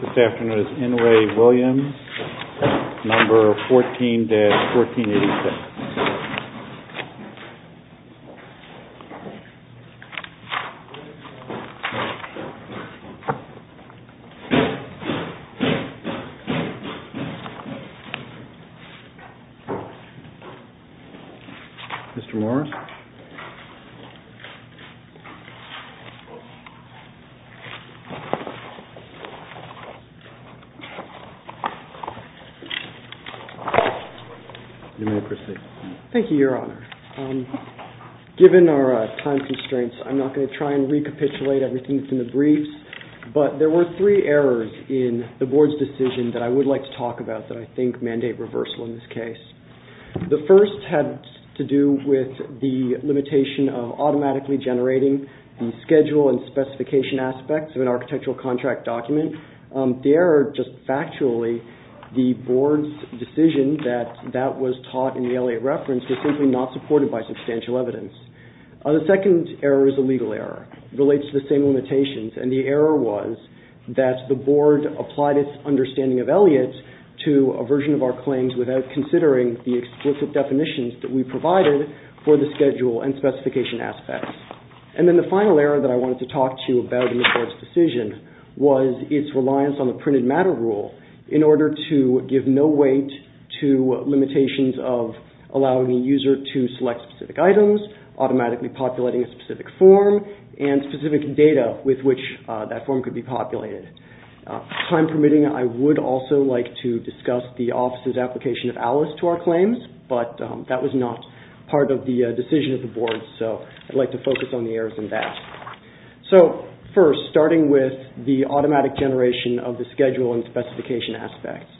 This afternoon is N. Ray Williams, No. 14-1486. Mr. Morris. Thank you, Your Honor. Given our time constraints, I'm not going to try and recapitulate everything from the briefs, but there were three errors in the board's decision that I would like to talk about that I think mandate reversal in this case. The first had to do with the limitation of automatically generating the schedule and specification aspects of an architectural contract document. The error, just factually, the board's decision that that was taught in the Elliott reference was simply not supported by substantial evidence. The second error is a legal error. It relates to the same limitations, and the error was that the board applied its understanding of Elliott to a version of our claims without considering the explicit definitions that we provided for the schedule and specification aspects. And then the final error that I wanted to talk to you about in the board's decision was its reliance on the printed matter rule in order to give no weight to limitations of allowing a user to select specific items, automatically populating a specific form, and specific data with which that form could be populated. Time permitting, I would also like to discuss the office's application of ALICE to our claims, but that was not part of the decision of the board, so I'd like to focus on the errors in that. So, first, starting with the automatic generation of the schedule and specification aspects.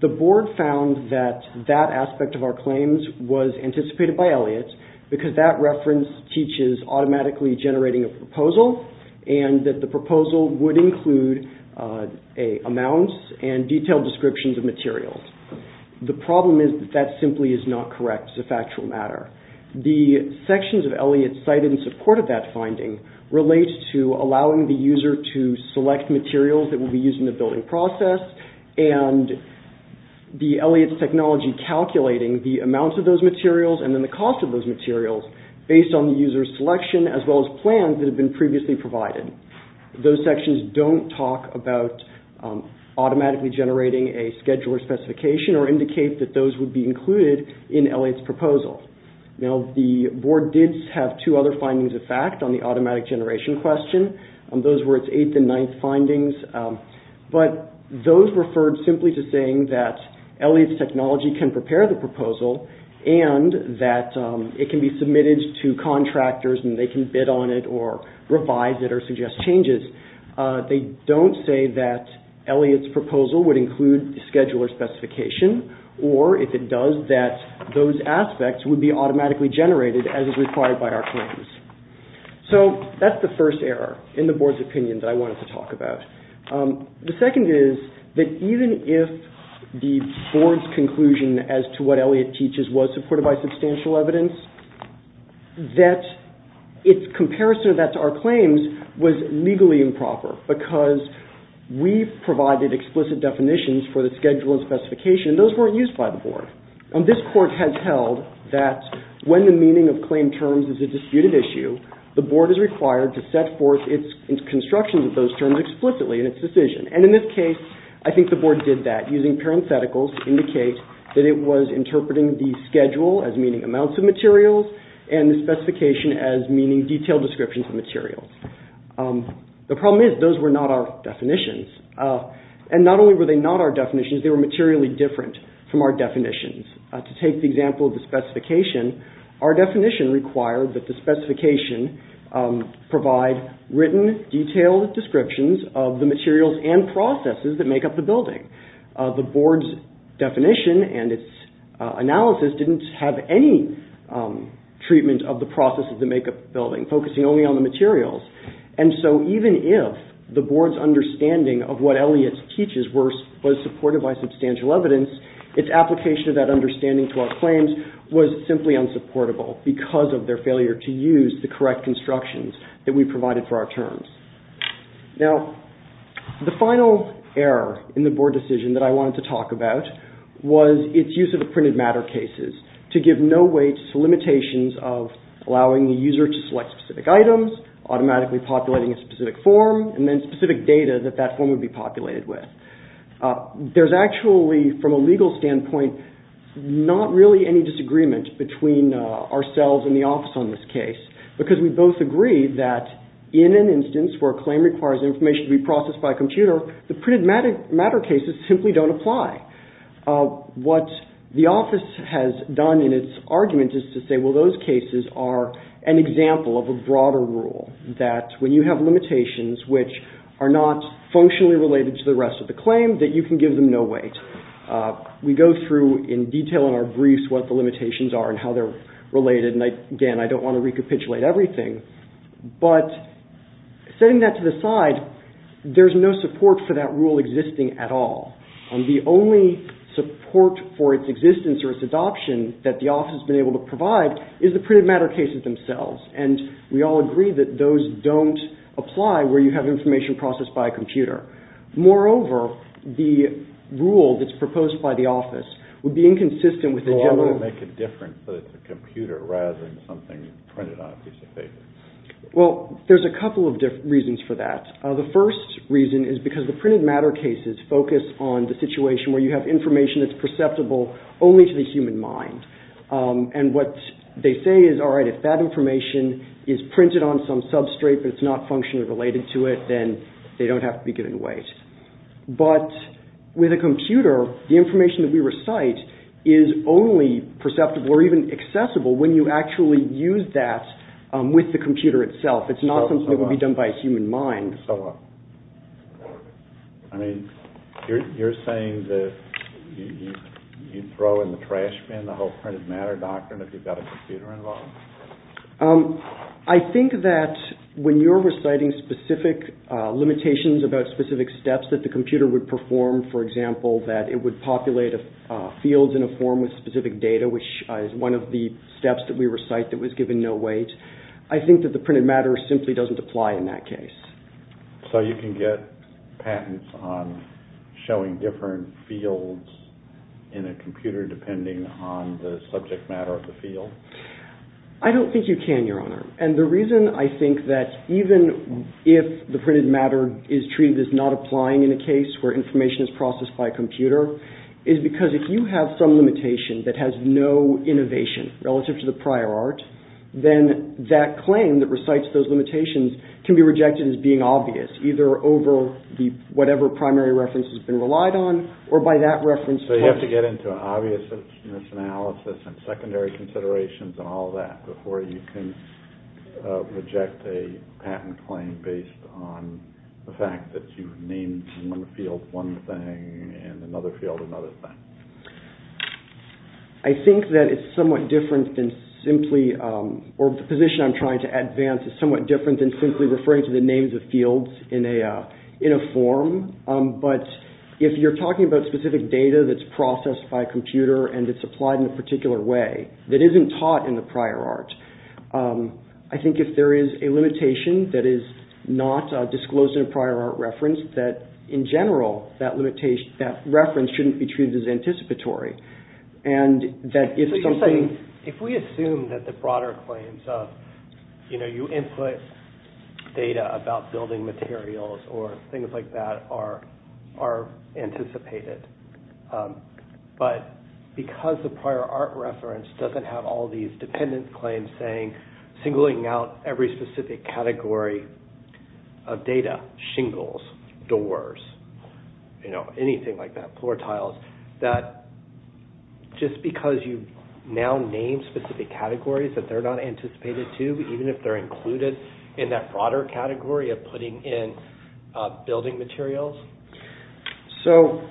The board found that that aspect of our claims was anticipated by Elliott because that reference teaches automatically generating a proposal, and that the proposal would include amounts and detailed descriptions of materials. The problem is that that simply is not correct. It's a factual matter. The sections of Elliott cited in support of that finding relate to allowing the user to select materials that will be used in the building process, and the Elliott's technology calculating the amounts of those materials and then the cost of those materials based on the user's selection as well as plans that have been previously provided. Those sections don't talk about automatically generating a scheduler specification or indicate that those would be included in Elliott's proposal. Now, the board did have two other findings of fact on the automatic generation question. Those were its eighth and ninth findings, but those referred simply to saying that Elliott's technology can prepare the proposal and that it can be submitted to contractors and they can bid on it or revise it or suggest changes. They don't say that Elliott's proposal would include scheduler specification or, if it does, that those aspects would be automatically generated as is required by our claims. So, that's the first error in the board's opinion that I wanted to talk about. The second is that even if the board's supported by substantial evidence, that its comparison of that to our claims was legally improper because we provided explicit definitions for the scheduler specification and those weren't used by the board. This court has held that when the meaning of claim terms is a disputed issue, the board is required to set forth its construction of those terms explicitly in its decision. And in this case, I think the board did that using parentheticals to indicate that it was interpreting the schedule as meaning amounts of materials and the specification as meaning detailed descriptions of materials. The problem is, those were not our definitions. And not only were they not our definitions, they were materially different from our definitions. To take the example of the specification, our definition required that the specification provide written, detailed descriptions of the materials and processes that make up the building. The board's definition and its analysis didn't have any treatment of the processes that make up the building, focusing only on the materials. And so, even if the board's understanding of what Elliott teaches was supported by substantial evidence, its application of that understanding to our claims was simply unsupportable because of their failure to use the correct constructions that we provided for our terms. Now, the final error in the board decision that I wanted to talk about was its use of printed matter cases. To give no weight to limitations of allowing the user to select specific items, automatically populating a specific form, and then specific data that that form would be populated with. There's actually, from a legal standpoint, not really any disagreement between ourselves and the office on this case because we both agree that in an instance where a claim requires information to be processed by argument is to say, well, those cases are an example of a broader rule, that when you have limitations which are not functionally related to the rest of the claim, that you can give them no weight. We go through in detail in our briefs what the limitations are and how they're related. And, again, I don't want to recapitulate everything, but setting that to the side, there's no support for that rule existing at all. The only support for its existence or its adoption that the office has been able to provide is the printed matter cases themselves. And we all agree that those don't apply where you have information processed by a computer. Moreover, the rule that's proposed by the office would be inconsistent with the general... situation where you have information that's perceptible only to the human mind. And what they say is, all right, if that information is printed on some substrate, but it's not functionally related to it, then they don't have to be given weight. But with a computer, the information that we recite is only perceptible or even accessible when you actually use that with the computer itself. It's not something that would be done by a human mind. I mean, you're saying that you'd throw in the trash bin the whole printed matter doctrine if you've got a computer involved? I think that when you're reciting specific limitations about specific steps that the computer would perform, for example, that it would populate fields in a form with specific data, which is one of the steps that we recite that was given no weight, I think that the printed matter simply doesn't apply in that case. So you can get patents on showing different fields in a computer depending on the subject matter of the field? I don't think you can, Your Honor. And the reason I think that even if the printed matter is treated as not applying in a case where information is processed by a computer is because if you have some limitation that has no innovation relative to the prior art, then that claim that recites those patents is not obvious, either over whatever primary reference has been relied on or by that reference. So you have to get into an obviousness analysis and secondary considerations and all that before you can reject a patent claim based on the fact that you've named one field one thing and another field another thing? I think that it's somewhat different than simply, or the position I'm trying to advance is somewhat different than simply referring to the names of fields in a form, but if you're talking about specific data that's processed by a computer and it's applied in a particular way that isn't taught in the prior art, I think if there is a limitation that is not disclosed in a prior art reference that, in general, that reference shouldn't be treated as anticipatory. If we assume that the broader claims of, you input data about building new buildings and new buildings and new buildings and new buildings and new buildings and new materials or things like that are anticipated, but because the prior art reference doesn't have all these dependent claims saying singling out every specific category of data, shingles, doors, anything like that, floor tiles, that just because you now name specific categories that they're not anticipated to, even if they're included in that broader category of putting in building materials. You'd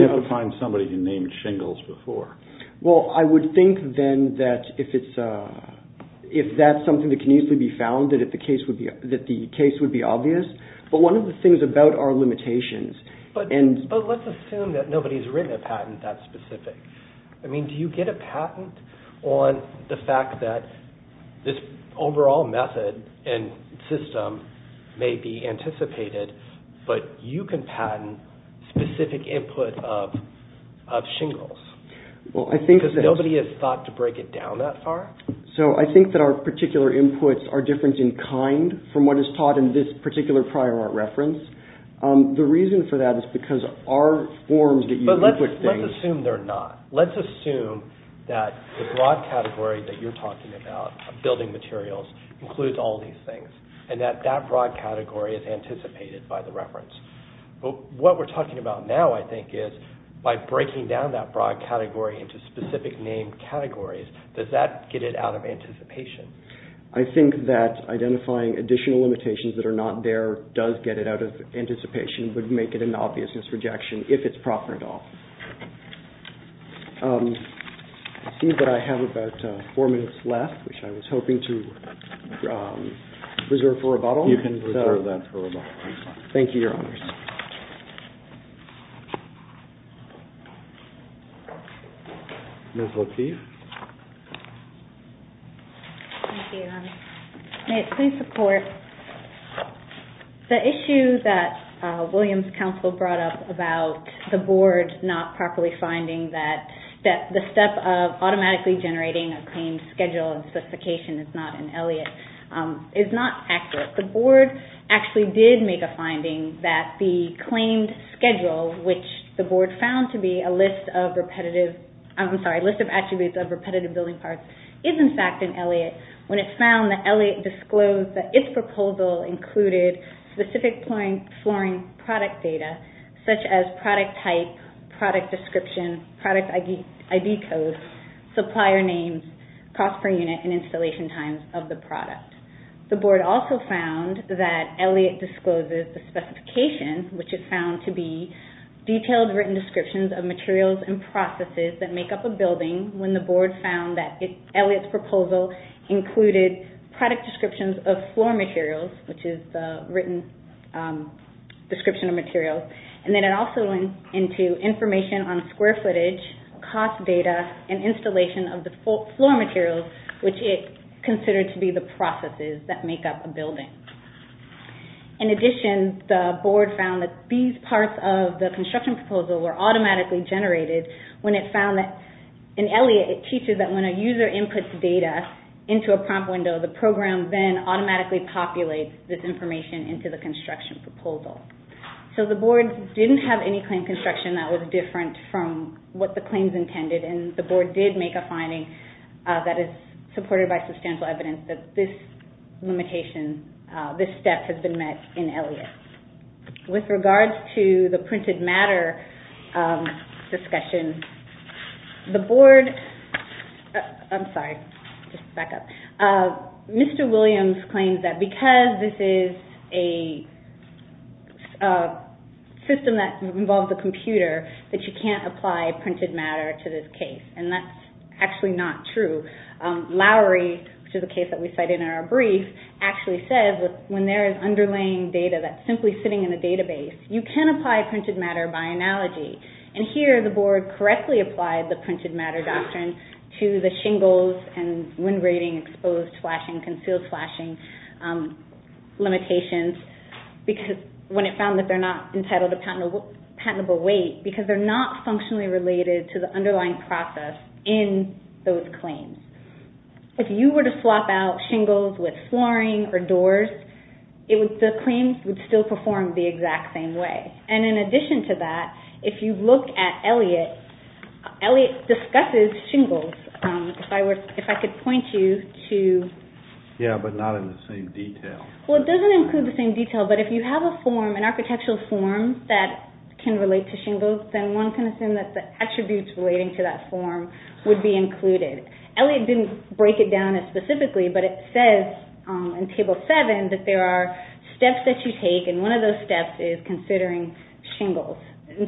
have to find somebody who named shingles before. But let's assume that nobody's written a patent that specific. A patent system may be anticipated, but you can patent specific input of shingles because nobody has thought to break it down that far. I think that our particular inputs are different in kind from what is taught in this particular prior art reference. The reason for that is because our forms that you input things... But let's assume they're not. Let's assume that the broad category that you're talking about of building materials includes all these things and that that broad category is anticipated by the reference. What we're talking about now, I think, is by breaking down that broad category into specific named categories, does that get it out of anticipation? I think that identifying additional limitations that are not there does get it out of anticipation, but make it an obvious misrejection if it's proper at all. I see that I have about four minutes left, which I was hoping to reserve for rebuttal. You can reserve that for rebuttal. The issue that William's counsel brought up about the board not properly finding that the step of automatically generating a claimed schedule and specification is not in Elliott is not accurate. The board actually did make a finding that the claimed schedule, which the board found to be a list of repetitive... I'm sorry, a list of attributes of repetitive building parts, is in fact in Elliott when it found that Elliott disclosed that its proposal includes specific flooring product data, such as product type, product description, product ID code, supplier names, cost per unit, and installation times of the product. The board also found that Elliott discloses the specification, which is found to be detailed written descriptions of materials and processes that make up a building, when the board found that Elliott's proposal included product descriptions of floor materials, which is the written description of materials. Then it also went into information on square footage, cost data, and installation of the floor materials, which it considered to be the processes that make up a building. In addition, the board found that these parts of the construction proposal were automatically generated when it found that in Elliott, it teaches that when a user inputs data into a prompt window, the program then automatically populates this information into the construction proposal. So the board didn't have any claim construction that was different from what the claims intended, and the board did make a finding that is supported by substantial evidence that this step has been met in Elliott. With regards to the printed matter discussion, Mr. Williams claims that because this is a system that involves a computer, that you can't apply printed matter to this case, and that's actually not true. Lowry, which is a case that we cited in our brief, actually says that when there is underlying data that's simply sitting in a database, you can apply printed matter by analogy. Here, the board correctly applied the printed matter doctrine to the shingles and wind rating, exposed flashing, concealed flashing limitations, when it found that they're not entitled to patentable weight, because they're not functionally related to the underlying process in those claims. If you were to swap out shingles with flooring or doors, the claims would still perform the exact same way. In addition to that, if you look at Elliott, Elliott discusses shingles. It doesn't include the same detail, but if you have an architectural form that can relate to shingles, then one can assume that the attributes relating to that form would be included. Elliott didn't break it down as specifically, but it says in Table 7 that there are steps that you take, and one of those steps is considering shingles.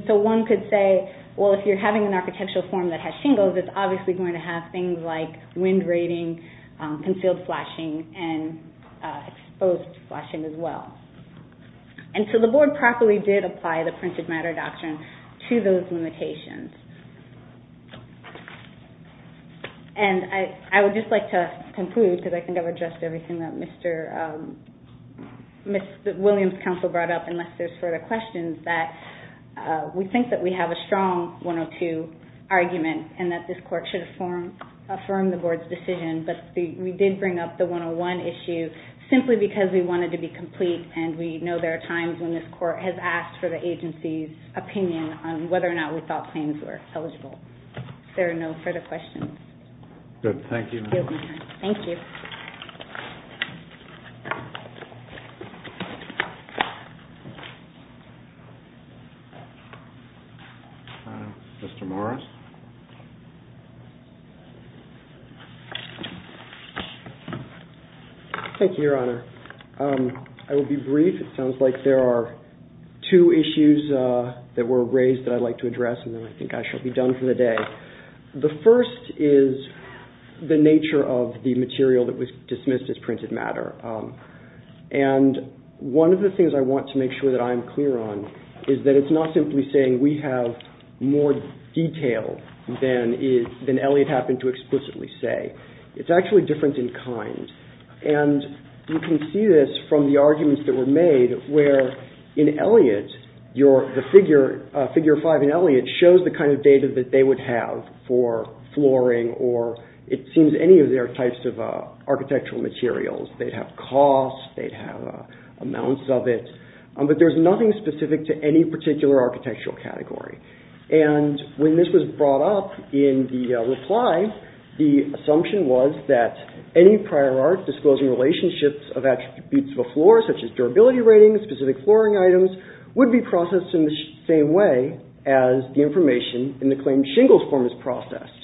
One could say, well, if you're having an architectural form that has shingles, it's obviously going to have things like wind rating, concealed flashing, and exposed flashing as well. The board properly did apply the printed matter doctrine to those limitations. I would just like to conclude, because I think I've addressed everything that Mr. Williams' counsel brought up, unless there's further questions, that we think that we have a strong 102 argument, and that this court should affirm the board's decision. We did bring up the 101 issue simply because we wanted it to be complete, and we know there are times when this court has asked for the agency's opinion on whether or not we thought claims were eligible. There are no further questions. Mr. Morris. Thank you, Your Honor. I will be brief. It sounds like there are two issues that were raised that I'd like to address, and then I think I shall be done for the day. The first is the nature of the material that was dismissed as printed matter, and one of the things I want to make sure that I am clear on is that it's not simply saying we have more detail than Elliot happened to explicitly say. It's actually different in kind, and you can see this from the arguments that were made where in Elliot, the figure five in Elliot shows the kind of data that they would have for flooring or it seems any of their types of architectural materials. They'd have costs, they'd have amounts of it, but there's nothing specific to any particular architectural category, and when this was brought up in the reply, the assumption was that any prior art disclosing relationships of attributes of a floor, such as durability ratings, specific flooring items, would be processed in the same way as the information in the claimed shingles form is processed,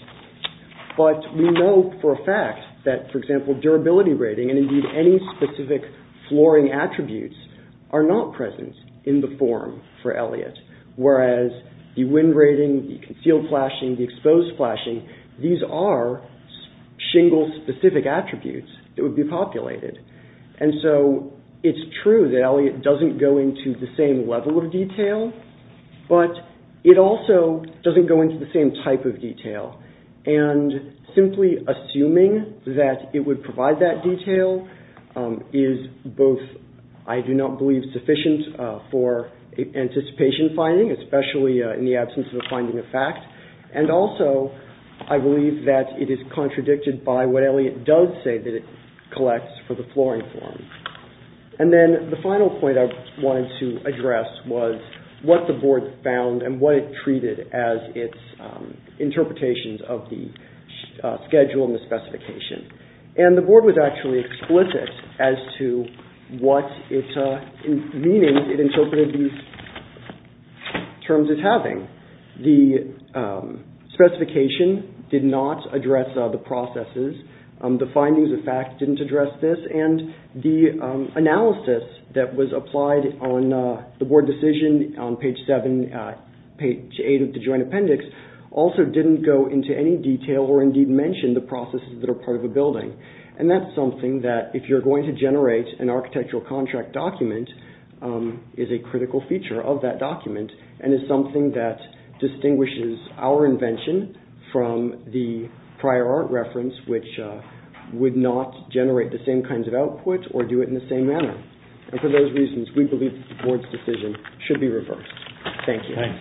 but we know for a fact that, for example, durability rating, and indeed any specific flooring attributes are not present in the form for Elliot, whereas the wind rating, the concealed flashing, the exposed flashing, these are shingles specific attributes that would be populated, and so it's true that Elliot doesn't go into the same level of detail, but it also doesn't go into the same type of detail, and simply assuming that it would provide that detail is both I do not believe sufficient for anticipation finding, especially in the absence of a finding of fact, and also I believe that it is contradicted by what Elliot does say that it collects for the flooring form. And then the final point I wanted to address was what the board found and what it treated as its interpretations of the schedule and the specification, and the board was actually explicit as to what its meaning it interpreted these terms as having. The specification did not address the processes, the findings of fact didn't address this, and the analysis that was applied on the board decision on page 7, page 8 of the joint appendix also didn't go into any detail or indeed mention the processes that are part of a building, and that's something that if you're going to generate an architectural contract document is a critical feature of that document, and is something that distinguishes our invention from the prior art reference which would not generate the same kinds of output or do it in the same manner. And for those reasons we believe that the board's decision should be reversed. Thank you.